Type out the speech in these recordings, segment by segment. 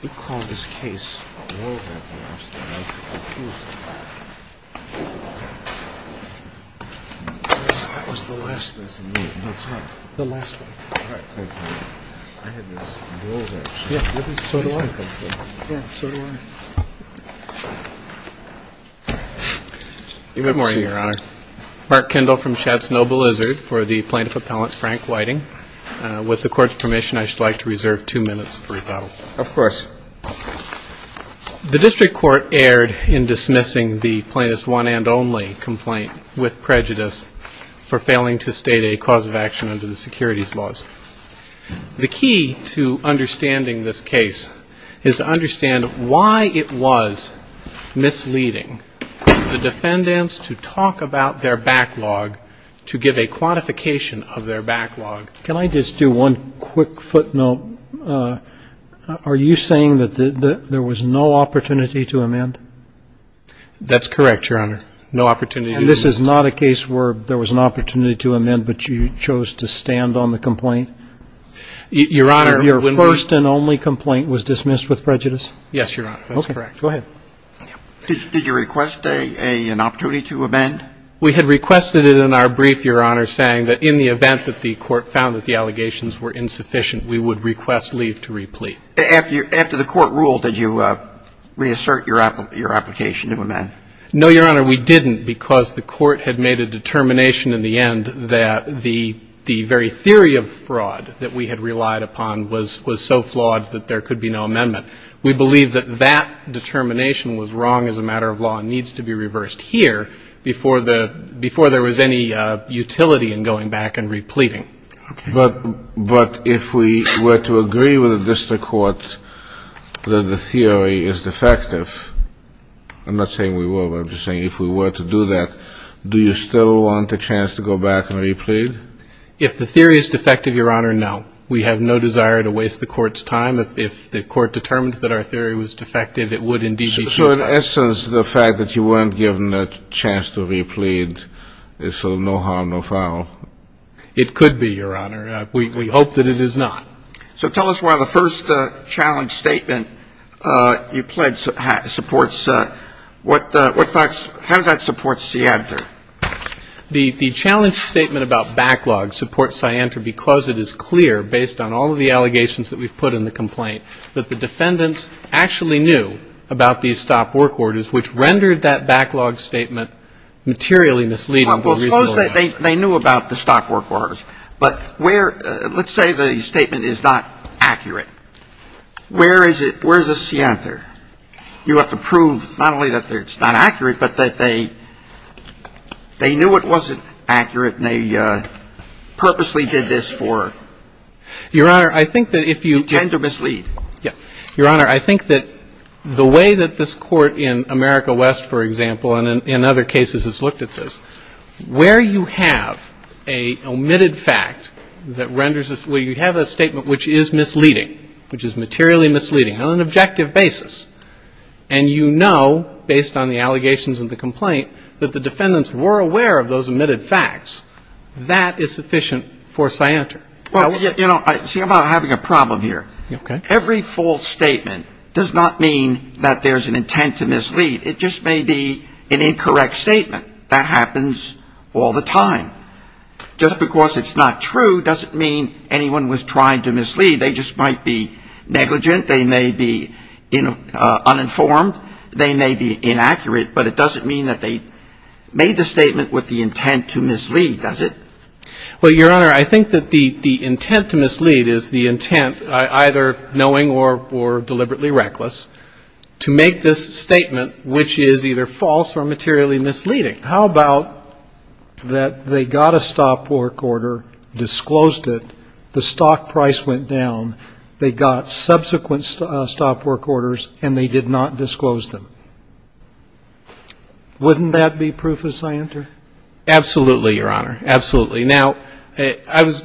We call this case Rolled up last night. I was a little confused. That was the last one. That's amazing. The last one. All right. Thank you. I had this rolled up. So do I. Yeah, so do I. Good morning, Your Honor. Mark Kendall from Schatz Noble Lizard for the plaintiff appellant Frank Whiting. With the court's permission, I should like to reserve two minutes for rebuttal. Of course. The district court erred in dismissing the plaintiff's one and only complaint with prejudice for failing to state a cause of action under the securities laws. The key to understanding this case is to understand why it was misleading the defendants to talk about their backlog, to give a quantification of their backlog. Can I just do one quick footnote? Are you saying that there was no opportunity to amend? That's correct, Your Honor. No opportunity. And this is not a case where there was an opportunity to amend, but you chose to stand on the complaint? Your Honor, your first and only complaint was dismissed with prejudice? Yes, Your Honor. That's correct. Go ahead. Did you request an opportunity to amend? We had requested it in our brief, Your Honor, saying that in the event that the court found that the allegations were insufficient, we would request leave to replete. After the court ruled, did you reassert your application to amend? No, Your Honor, we didn't because the court had made a determination in the end that the very theory of fraud that we had relied upon was so flawed that there could be no amendment. We believe that that determination was wrong as a matter of law and needs to be reversed here before there was any utility in going back and repleting. Okay. But if we were to agree with the district court that the theory is defective, I'm not saying we were, but I'm just saying if we were to do that, do you still want a chance to go back and replete? If the theory is defective, Your Honor, no. We have no desire to waste the court's time. If the court determined that our theory was defective, it would indeed be true. So in essence, the fact that you weren't given a chance to replete is so no harm, no foul? It could be, Your Honor. We hope that it is not. So tell us why the first challenge statement you pledged supports what facts – how does that support scienter? The challenge statement about backlog supports scienter because it is clear, based on all of the allegations that we've put in the complaint, that the defendants actually knew about these stock work orders, which rendered that backlog statement materially misleading for reasonable reason. Well, suppose they knew about the stock work orders. But where – let's say the statement is not accurate. Where is the scienter? You have to prove not only that it's not accurate, but that they knew it wasn't accurate, and they purposely did this for – Your Honor, I think that if you – You tend to mislead. Yeah. Your Honor, I think that the way that this Court in America West, for example, and in other cases has looked at this, where you have a omitted fact that renders this – where you have a statement which is misleading, which is materially misleading on an objective basis, and you know, based on the allegations of the complaint, that the defendants were aware of those omitted facts, that is sufficient for scienter. Well, you know, see, I'm having a problem here. Every false statement does not mean that there is an intent to mislead. It just may be an incorrect statement. That happens all the time. Just because it's not true doesn't mean anyone was trying to mislead. They just might be negligent. They may be uninformed. They may be inaccurate, but it doesn't mean that they made the statement with the intent to mislead, does it? Well, Your Honor, I think that the intent to mislead is the intent, either knowing or deliberately reckless, to make this statement which is either false or materially misleading. How about that they got a stop work order, disclosed it, the stock price went down, they got subsequent stop work orders, and they did not disclose them. Wouldn't that be proof of scienter? Absolutely, Your Honor. Absolutely. Now, I was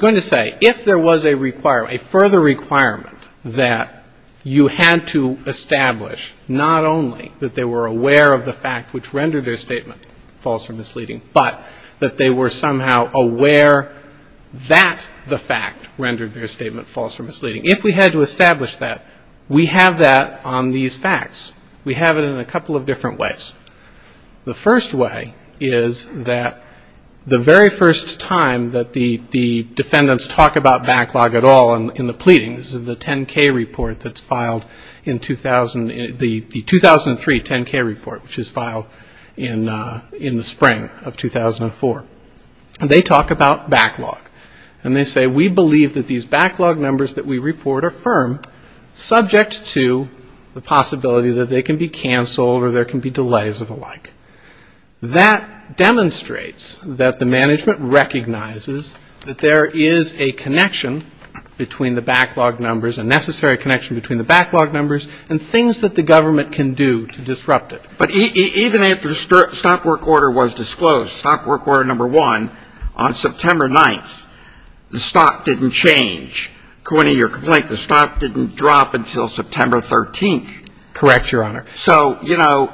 going to say, if there was a further requirement that you had to establish not only that they were aware of the fact which rendered their statement false or misleading, but that they were somehow aware that the fact rendered their statement false or misleading. If we had to establish that, we have that on these facts. We have it in a couple of different ways. The first way is that the very first time that the defendants talk about backlog at all in the pleadings, the 10-K report that's filed in 2000, the 2003 10-K report which was filed in the spring of 2004. They talk about backlog. And they say, we believe that these backlog numbers that we report are firm, subject to the possibility that they can be canceled or there can be delays of the like. That demonstrates that the management recognizes that there is a connection between the backlog numbers, a necessary connection between the backlog numbers, and the fact that they can be canceled or there can be delays of the like. Now, even if the stock work order was disclosed, stock work order number one, on September 9th, the stock didn't change. According to your complaint, the stock didn't drop until September 13th. Correct, Your Honor. So, you know,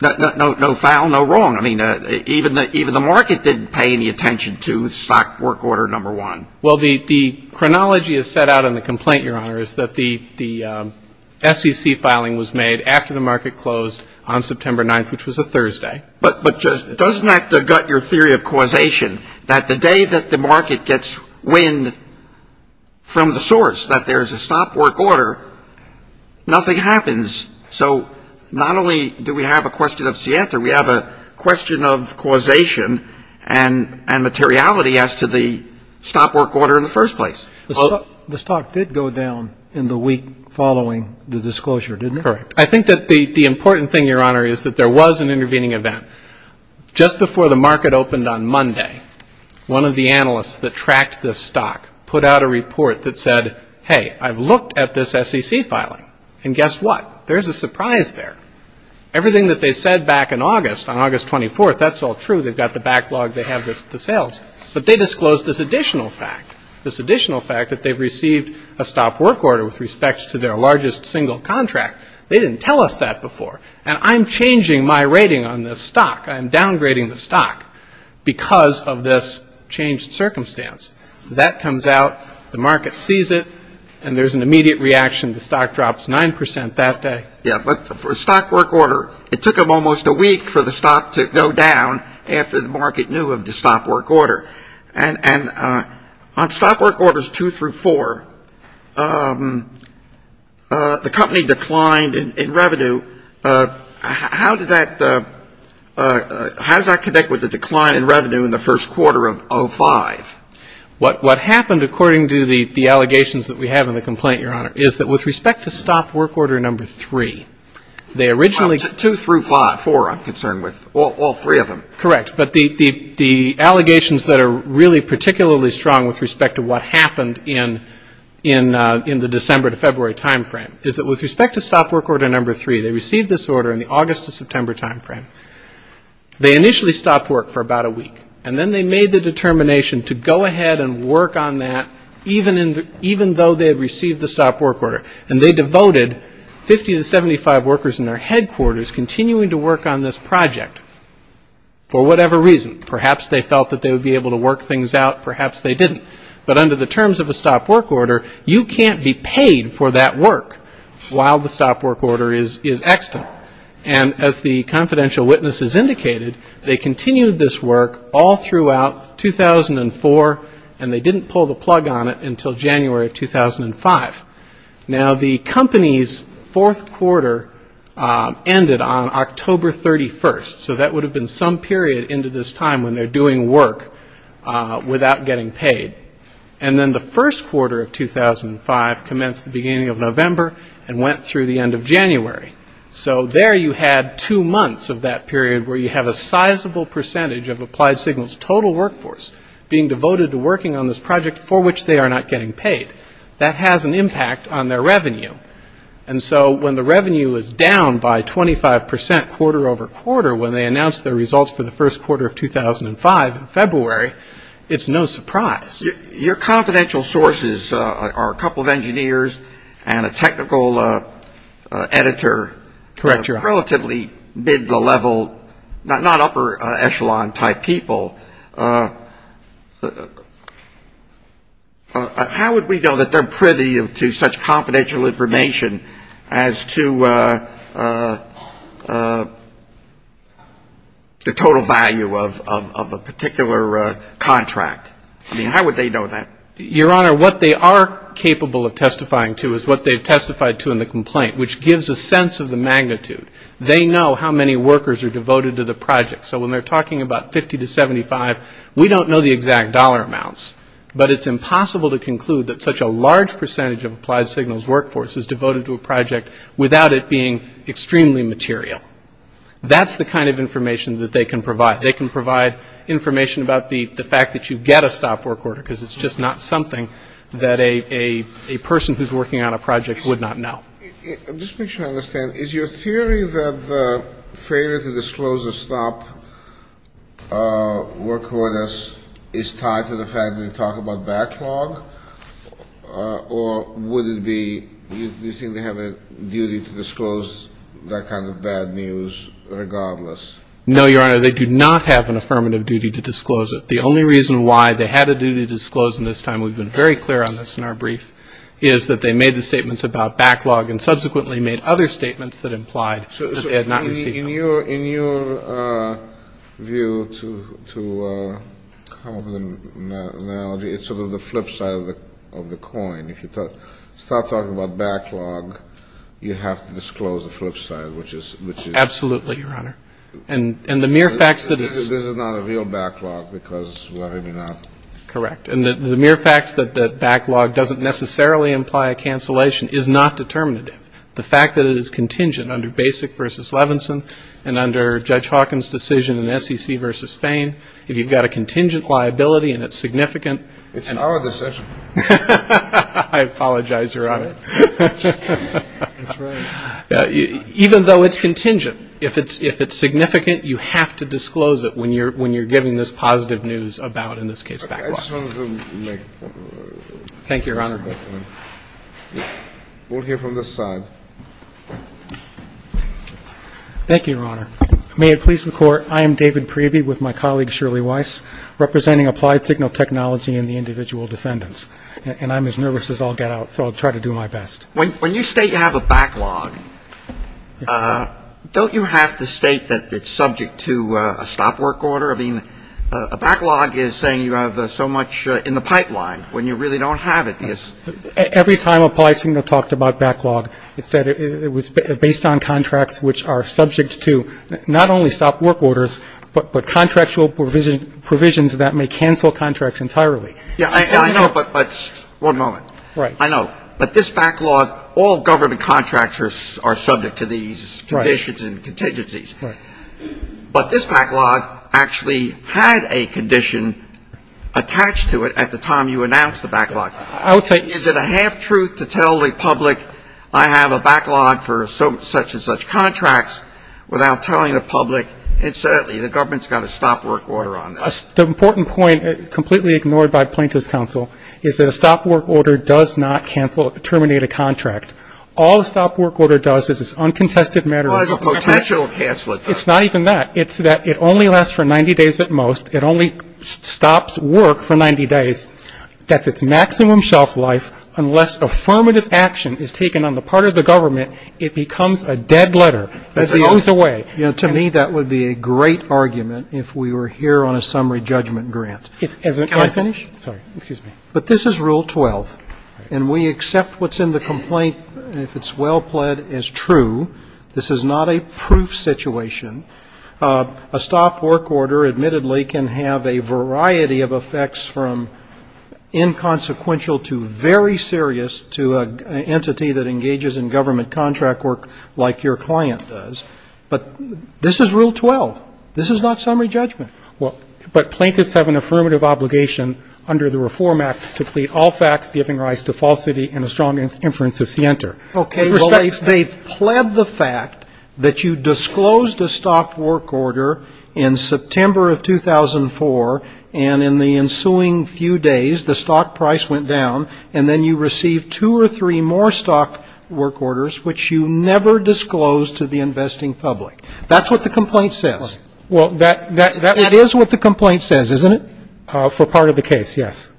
no foul, no wrong. I mean, even the market didn't pay any attention to stock work order number one. Well, the chronology is set out in the complaint, Your Honor, is that the SEC filing was made after the market closed on September 9th, which was a Thursday. But doesn't that gut your theory of causation, that the day that the market gets wind from the source, that there's a stock work order, nothing happens? So not only do we have a question of causation and materiality as to the stock work order in the first place. The stock did go down in the week following the disclosure, didn't it? Correct. I think that the important thing, Your Honor, is that there was an intervening event. Just before the market opened on Monday, one of the analysts that tracked this stock put out a report that said, hey, I've looked at this SEC filing, and guess what? There's a surprise there. Everything that they said back in August, on August 24th, that's all true. They've got the backlog. They have the sales. But they disclosed this additional fact, this additional fact that they've received a stock work order with respect to their largest single contract. They didn't tell us that before. And I'm changing my rating on this stock. I'm downgrading the stock because of this changed circumstance. That comes out, the market sees it, and there's an immediate reaction. The stock drops 9 percent that day. Yeah. But for a stock work order, it took them almost a week for the stock to go down after the market knew of the stock work order. And on stock work orders two through four, the company declined in revenue. How did that ‑‑ how does that connect with the decline in revenue in the first quarter of 05? What happened, according to the allegations that we have in the complaint, Your Honor, is that with respect to stock work order number three, they originally Well, two through five, four, I'm concerned with. All three of them. Correct. But the allegations that are really particularly strong with respect to what happened in the December to February time frame is that with respect to stock work order number three, they received this order in the August to September time frame. They initially stopped work for about a week. And then they made the determination to go ahead and work on that even though they had received the stop work order. And they devoted 50 to 75 workers in their headquarters continuing to work on this project for whatever reason. Perhaps they felt that they would be able to work things out. Perhaps they didn't. But under the terms of a stop work order, you can't be paid for that work while the stop work order is extant. And as the confidential witnesses indicated, they continued this work all throughout 2004, and they didn't pull the plug on it until January of 2005. Now, the company's fourth quarter ended on October 31st. So that would have been some period into this time when they're doing work without getting paid. And then the first quarter of 2005 commenced the beginning of November and went through the end of the month of that period where you have a sizable percentage of Applied Signals' total workforce being devoted to working on this project for which they are not getting paid. That has an impact on their revenue. And so when the revenue is down by 25 percent quarter over quarter when they announced their results for the first quarter of 2005 in February, it's no surprise. Your confidential sources are a couple of engineers and a technical editor. Correct, Your Honor. Relatively mid-level, not upper echelon type people. How would we know that they're privy to such confidential information as to the total value of a particular contract? I mean, how would they know that? Your Honor, what they are capable of testifying to is what they've testified to in the complaint, which gives a sense of the magnitude. They know how many workers are devoted to the project. So when they're talking about 50 to 75, we don't know the exact dollar amounts. But it's impossible to conclude that such a large percentage of Applied Signals' workforce is devoted to a project without it being extremely material. That's the kind of information that they can provide. They can provide information about the fact that you get a stop work order because it's just not something that a person who's working on a project would know. I'm just making sure I understand. Is your theory that the failure to disclose a stop work order is tied to the fact that they talk about backlog? Or would it be you think they have a duty to disclose that kind of bad news regardless? No, Your Honor. They do not have an affirmative duty to disclose it. The only reason why they had a duty to disclose, and this time we've been very clear on this in our brief, is that they made the statements about backlog and subsequently made other statements that implied that they had not received them. So in your view, to come up with an analogy, it's sort of the flip side of the coin. If you start talking about backlog, you have to disclose the flip side, which is the mere fact that it's not a real backlog. Correct. And the mere fact that backlog doesn't necessarily imply a cancellation is not determinative. The fact that it is contingent under Basic v. Levinson and under Judge Hawkins' decision in SEC v. Fain, if you've got a contingent liability and it's significant. It's our decision. I apologize, Your Honor. That's right. Even though it's contingent, if it's significant, you have to disclose it when you're giving this positive news about, in this case, backlog. Thank you, Your Honor. We'll hear from this side. Thank you, Your Honor. May it please the Court, I am David Priebe with my colleague Shirley Weiss, representing Applied Signal Technology and the individual defendants. And I'm as nervous as I'll get out, so I'll try to do my best. When you state you have a backlog, don't you have to state that it's subject to a stop work order? I mean, a backlog is saying you have so much in the pipeline when you really don't have it. Every time Applied Signal talked about backlog, it said it was based on contracts which are subject to not only stop work orders, but contractual provisions that may cancel contracts entirely. I know, but one moment. Right. I know. But this backlog, all government contractors are subject to these conditions and contingencies. Right. But this backlog actually had a condition attached to it at the time you announced the backlog. I would say — Is it a half-truth to tell the public I have a backlog for such and such contracts without telling the public incidentally the government's got a stop work order on this? The important point, completely ignored by plaintiff's counsel, is that a stop work order does not cancel or terminate a contract. All a stop work order does is it's uncontested matter. Well, it has a potential to cancel it, though. It's not even that. It's that it only lasts for 90 days at most. It only stops work for 90 days. That's its maximum shelf life. Unless affirmative action is taken on the part of the government, it becomes a dead letter. It goes away. To me, that would be a great argument if we were here on a summary judgment grant. Can I finish? Sorry. Excuse me. But this is Rule 12. And we accept what's in the complaint, if it's well pled, as true. This is not a proof situation. A stop work order, admittedly, can have a variety of effects from inconsequential to very serious to an entity that engages in government contract work like your client does. But this is Rule 12. This is not summary judgment. But plaintiffs have an affirmative obligation under the Reform Act to plead all facts giving rise to falsity and a strong inference of scienter. Okay. They've pled the fact that you disclosed a stop work order in September of 2004, and in the ensuing few days, the stop price went down, and then you received two or three more stop work orders, which you never disclosed to the investing public. That's what the complaint says. Well, that's what the complaint says, isn't it? For part of the case, yes.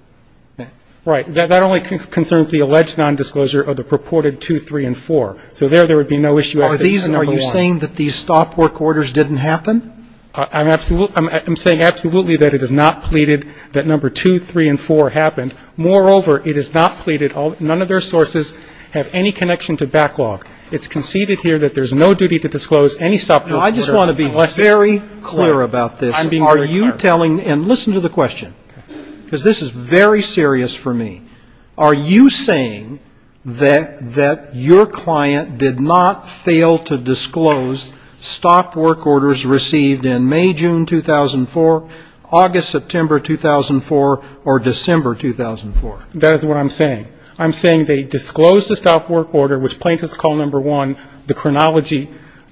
Right. That only concerns the alleged nondisclosure of the purported two, three, and four. So there, there would be no issue. Are you saying that these stop work orders didn't happen? I'm saying absolutely that it is not pleaded, that number two, three, and four happened. Moreover, it is not pleaded. None of their sources have any connection to backlog. It's conceded here that there's no duty to disclose any stop work order unless it's clear. I just want to be very clear about this. I'm being very clear. Are you telling, and listen to the question, because this is very serious for me. Are you saying that your client did not fail to disclose stop work orders received in May, June 2004, August, September 2004, or December 2004? That is what I'm saying. I'm saying they disclosed a stop work order, which plaintiffs call number one, the chronology,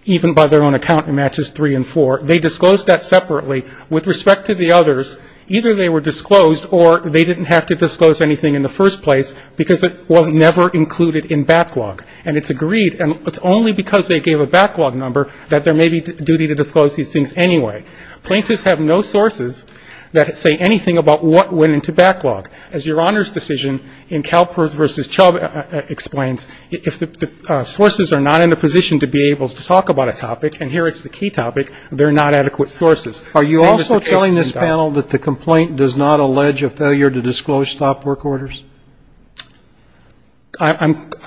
even by their own account it matches three and four. They disclosed that separately. With respect to the others, either they were disclosed or they didn't have to disclose anything in the first place because it was never included in backlog. And it's agreed, and it's only because they gave a backlog number that there may be duty to disclose these things anyway. Plaintiffs have no sources that say anything about what went into backlog. As your Honor's decision in Kalpers v. Chubb explains, if the sources are not in a position to be able to talk about a topic, and here it's the key topic, they're not adequate sources. Are you also telling this panel that the complaint does not allege a failure to disclose stop work orders?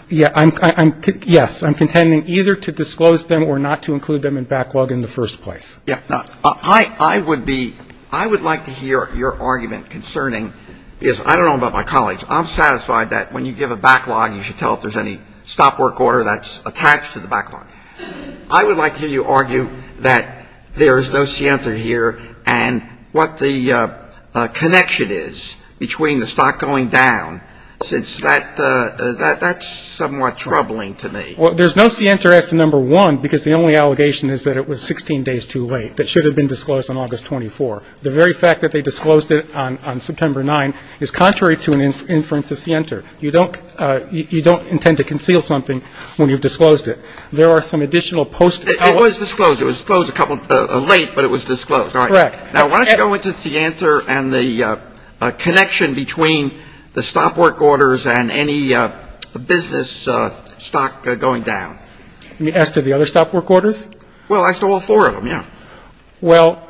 Yes. I'm contending either to disclose them or not to include them in backlog in the first place. Yes. I would be, I would like to hear your argument concerning, because I don't know about my colleagues, I'm satisfied that when you give a backlog, you should tell if there's any stop work order that's attached to the backlog. I would like to hear you argue that there is no scienter here and what the connection is between the stock going down, since that's somewhat troubling to me. Well, there's no scienter as to number one, because the only allegation is that it was 16 days too late. That should have been disclosed on August 24. The very fact that they disclosed it on September 9 is contrary to an inference of scienter. You don't, you don't intend to conceal something when you've disclosed it. There are some additional post. It was disclosed. It was disclosed a couple, late, but it was disclosed. Correct. Now, why don't you go into scienter and the connection between the stop work orders and any business stock going down? You mean as to the other stop work orders? Well, as to all four of them, yeah. Well.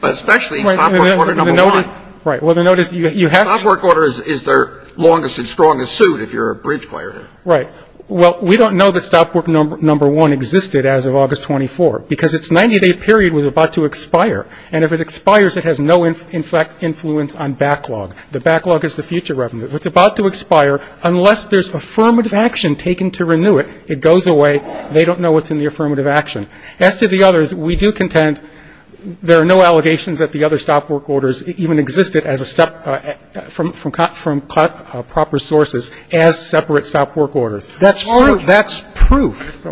But especially stop work order number one. Right. Well, the note is you have. Stop work order is their longest and strongest suit, if you're a bridge player. Right. Well, we don't know that stop work number one existed as of August 24, because its 90-day period was about to expire. And if it expires, it has no, in fact, influence on backlog. The backlog is the future revenue. If it's about to expire, unless there's affirmative action taken to renew it, it goes away. They don't know what's in the affirmative action. As to the others, we do contend there are no allegations that the other stop work orders even existed as a, from proper sources as separate stop work orders. That's proof.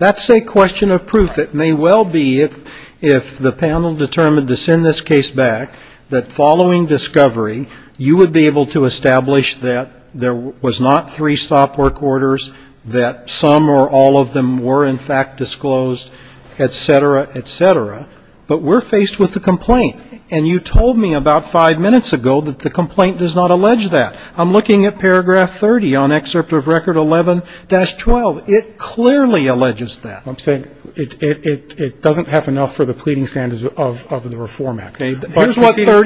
That's a question of proof. It may well be, if the panel determined to send this case back, that following discovery, you would be able to establish that there was not three stop work orders, that some or all of them were, in fact, disclosed, et cetera, et cetera. But we're faced with a complaint. And you told me about five minutes ago that the complaint does not allege that. I'm looking at paragraph 30 on excerpt of record 11-12. It clearly alleges that. I'm saying it doesn't have enough for the pleading standards of the reform act. Okay.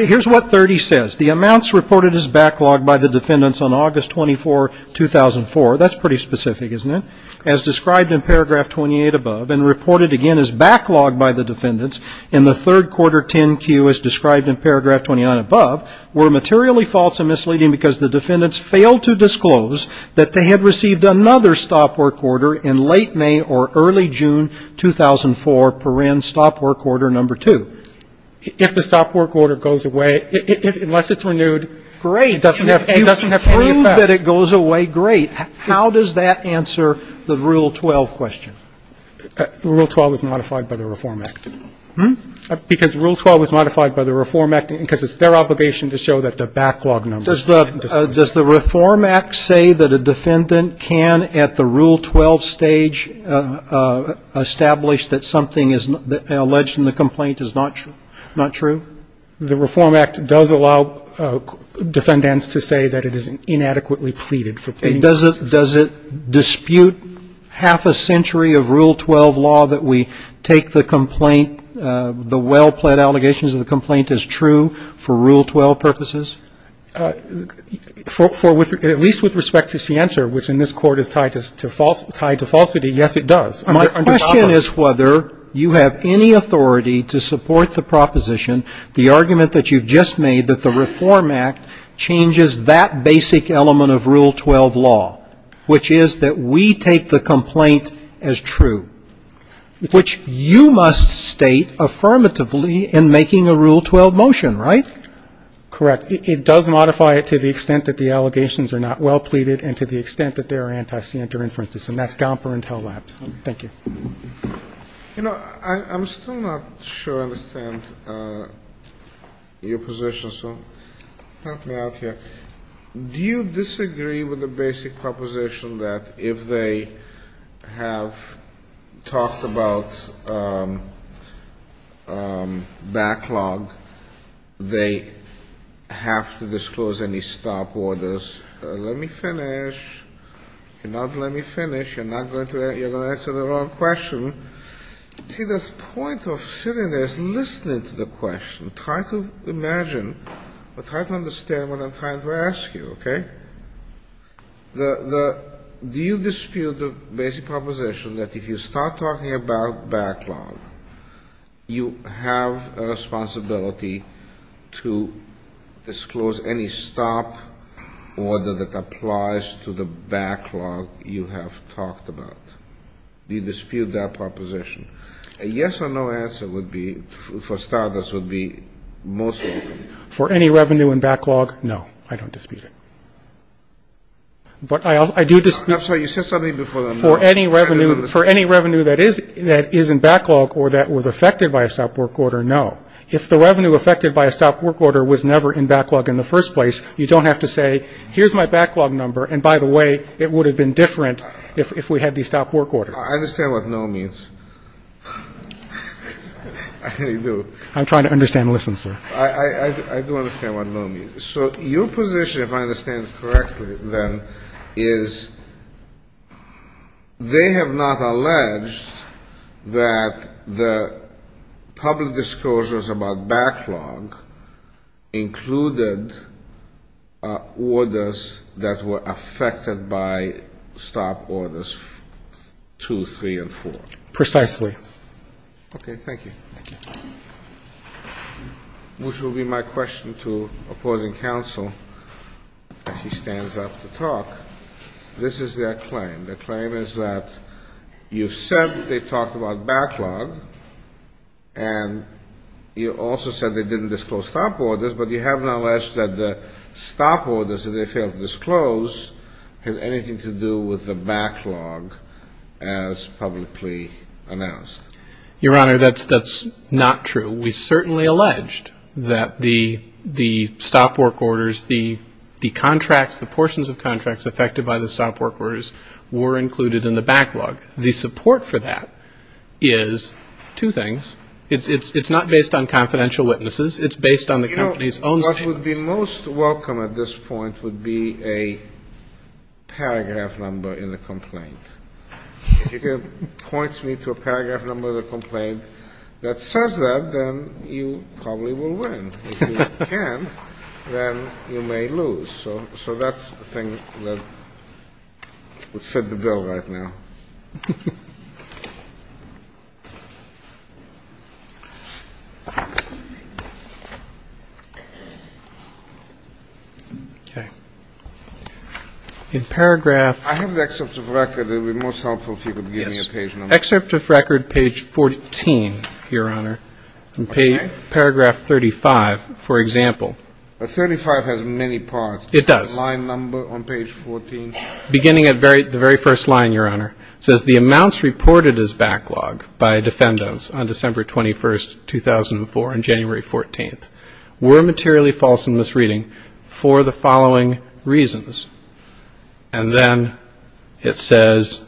Here's what 30 says. The amounts reported as backlogged by the defendants on August 24, 2004, that's pretty specific, isn't it, as described in paragraph 28 above and reported again as backlogged by the defendants in the third quarter 10-Q as described in paragraph 29 above, were materially false and misleading because the defendants failed to disclose that they had received another stop work order in late May or early June 2004, paren, stop work order number two. If the stop work order goes away, unless it's renewed, it doesn't have any effect. Great. You prove that it goes away, great. How does that answer the Rule 12 question? Rule 12 is modified by the Reform Act. Hmm? Because Rule 12 is modified by the Reform Act because it's their obligation to show that the backlog number. Does the Reform Act say that a defendant can, at the Rule 12 stage, establish that something alleged in the complaint is not true? The Reform Act does allow defendants to say that it is inadequately pleaded for. Does it dispute half a century of Rule 12 law that we take the complaint, the well-pled allegations of the complaint as true for Rule 12 purposes? At least with respect to scienter, which in this Court is tied to falsity, yes, it does. My question is whether you have any authority to support the proposition, the argument that you've just made that the Reform Act changes that basic element of Rule 12 law, which is that we take the complaint as true, which you must state affirmatively in making a Rule 12 motion, right? Correct. It does modify it to the extent that the allegations are not well pleaded and to the extent that they are anti-scienter inferences, and that's Gomper and Tell-Labs. Thank you. You know, I'm still not sure I understand your position, so help me out here. Do you disagree with the basic proposition that if they have talked about backlog, they have to disclose any stop orders? Let me finish. You cannot let me finish. You're not going to answer the wrong question. See, the point of sitting there is listening to the question. Try to imagine or try to understand what I'm trying to ask you, okay? Do you dispute the basic proposition that if you start talking about backlog, you have a responsibility to disclose any stop order that applies to the backlog you have talked about? Do you dispute that proposition? A yes or no answer would be, for starters, would be most likely. For any revenue in backlog, no, I don't dispute it. But I do dispute for any revenue that is in backlog or that was affected by a stop work order, no. If the revenue affected by a stop work order was never in backlog in the first place, you don't have to say, here's my backlog number, and by the way, it would have been different if we had these stop work orders. I understand what no means. I really do. I'm trying to understand. Listen, sir. I do understand what no means. So your position, if I understand it correctly, then, is they have not alleged that the public disclosures about backlog included orders that were affected by stop orders 2, 3, and 4. Precisely. Thank you. Okay. Thank you. Thank you. Which will be my question to opposing counsel as he stands up to talk. This is their claim. Their claim is that you've said they've talked about backlog, and you also said they didn't disclose stop orders, but you have not alleged that the stop orders that they failed to disclose have anything to do with the backlog as publicly announced. Your Honor, that's not true. We certainly alleged that the stop work orders, the contracts, the portions of contracts affected by the stop work orders were included in the backlog. The support for that is two things. It's not based on confidential witnesses. It's based on the company's own statements. What would be most welcome at this point would be a paragraph number in the complaint. If you can point me to a paragraph number of the complaint that says that, then you probably will win. If you can't, then you may lose. So that's the thing that would fit the bill right now. Okay. In paragraph ñ I have the excerpt of record. It would be most helpful if you could give me a page number. Yes. Excerpt of record, page 14, Your Honor. Okay. In paragraph 35, for example. But 35 has many parts. It does. Line number on page 14. Beginning at the very first line, Your Honor. It says, The amounts reported as backlog by defendants on December 21st, 2004, on January 14th were materially false and misreading for the following reasons. And then it says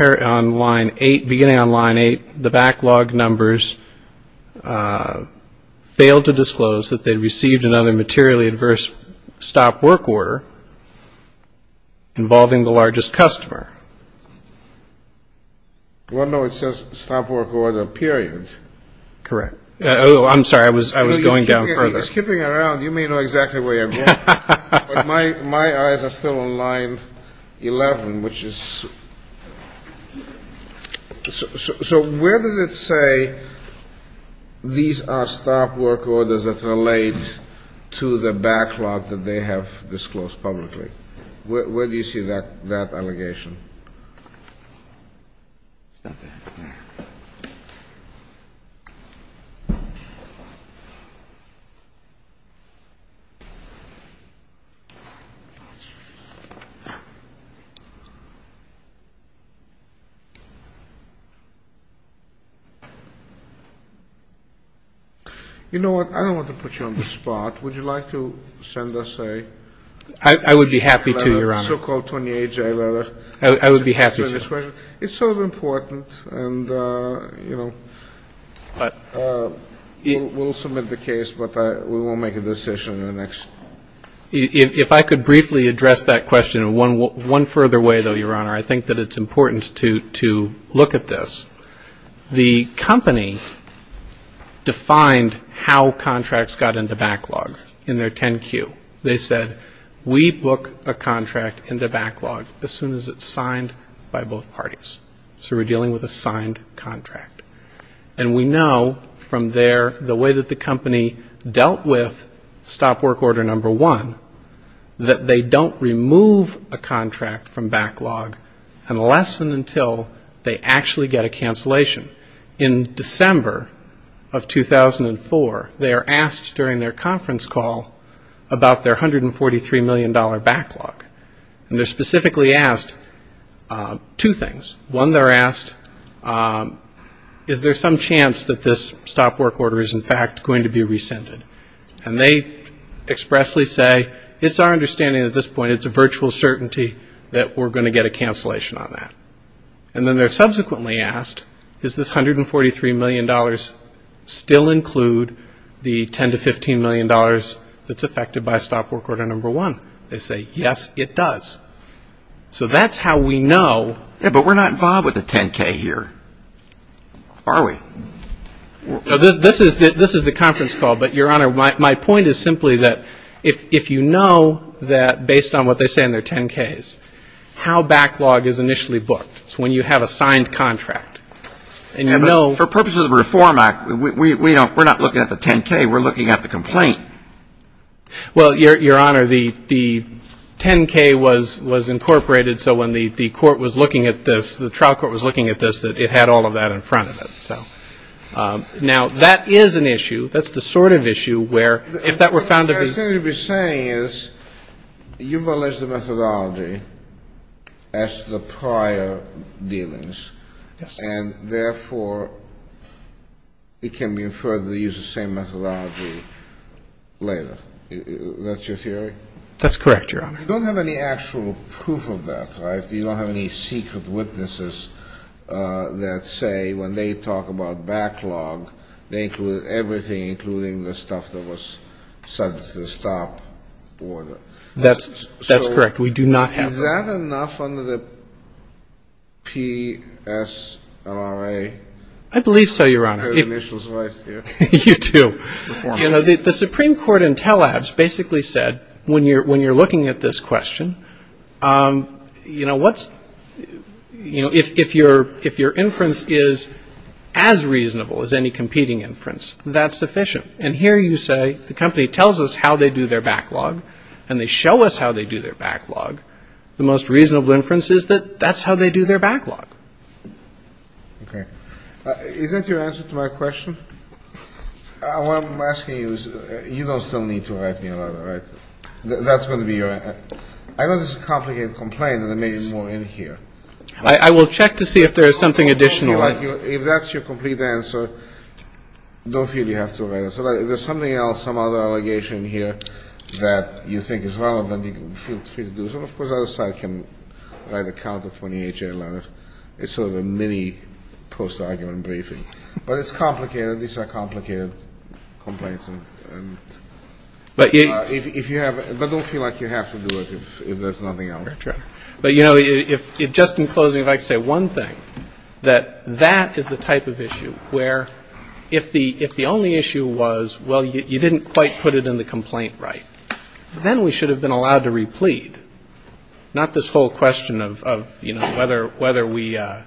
on line 8, beginning on line 8, the backlog numbers failed to disclose that they received another materially adverse stop work order involving the largest customer. Well, no. It says stop work order, period. Correct. Oh, I'm sorry. I was going down further. You're skipping around. You may know exactly where you're going. But my eyes are still on line 11, which is ñ So where does it say these are stop work orders that relate to the backlog that they have disclosed publicly? Where do you see that allegation? You know what, I don't want to put you on the spot. Would you like to send us a letter? I would be happy to, Your Honor. A so-called Tony H.J. letter? Thank you. Thank you. Thank you. Thank you. Thank you. Thank you. Thank you. Thank you. I would be happy to. It's sort of important, and, you know, we'll submit the case, but we won't make a decision in the next ñ If I could briefly address that question one further way, though, Your Honor, I think that it's important to look at this. The company defined how contracts got into backlog in their 10-Q. They said, we book a contract into backlog as soon as it's signed by both parties. So we're dealing with a signed contract. And we know from there the way that the company dealt with stop work order number one, that they don't remove a contract from backlog unless and until they actually get a cancellation. In December of 2004, they are asked during their conference call about their $143 million backlog. And they're specifically asked two things. One, they're asked, is there some chance that this stop work order is, in fact, going to be rescinded? And they expressly say, it's our understanding at this point, it's a virtual certainty that we're going to get a cancellation on that. And then they're subsequently asked, does this $143 million still include the $10 to $15 million that's affected by stop work order number one? They say, yes, it does. So that's how we know ñ Yeah, but we're not involved with the 10-K here, are we? This is the conference call. But, Your Honor, my point is simply that if you know that based on what they say in their 10-Ks, how backlog is initially booked is when you have a signed contract. And you know ñ For purposes of the Reform Act, we're not looking at the 10-K. We're looking at the complaint. Well, Your Honor, the 10-K was incorporated so when the court was looking at this, the trial court was looking at this, that it had all of that in front of it. Now, that is an issue. That's the sort of issue where if that were found to be ñ What you're saying is you've alleged the methodology as the prior dealings, and therefore it can be inferred that they use the same methodology later. That's your theory? That's correct, Your Honor. You don't have any actual proof of that, right? You don't have any secret witnesses that say when they talk about backlog, they include everything, including the stuff that was subject to the stop order. That's correct. We do not have that. So is that enough under the PSRA? I believe so, Your Honor. I heard Mitchell's voice here. You too. You know, the Supreme Court in Tel Aviv basically said when you're looking at this That's sufficient. And here you say the company tells us how they do their backlog, and they show us how they do their backlog. The most reasonable inference is that that's how they do their backlog. Okay. Is that your answer to my question? What I'm asking you is you don't still need to write me another, right? That's going to be your ñ I know this is a complicated complaint, and there may be more in here. I will check to see if there is something additional. If that's your complete answer, don't feel you have to write it. If there's something else, some other allegation here that you think is relevant, you can feel free to do so. Of course, the other side can write a counter 28-year letter. It's sort of a mini post-argument briefing. But it's complicated. These are complicated complaints. But don't feel like you have to do it if there's nothing else. That's right. But, you know, just in closing, if I could say one thing, that that is the type of issue where if the only issue was, well, you didn't quite put it in the complaint right, then we should have been allowed to replete, not this whole question of, you know, whether we ñ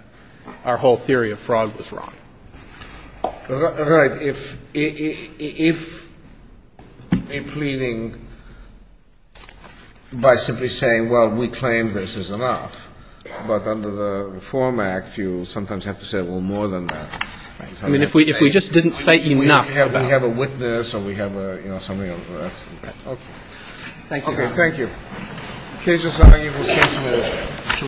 our whole theory of fraud was wrong. Right. If a pleading by simply saying, well, we claim this is enough, but under the Reform Act you sometimes have to say, well, more than that. I mean, if we just didn't say enough. We have a witness or we have a, you know, somebody on the grass. Okay. Thank you. Okay. Thank you. In case there's something you wish to add.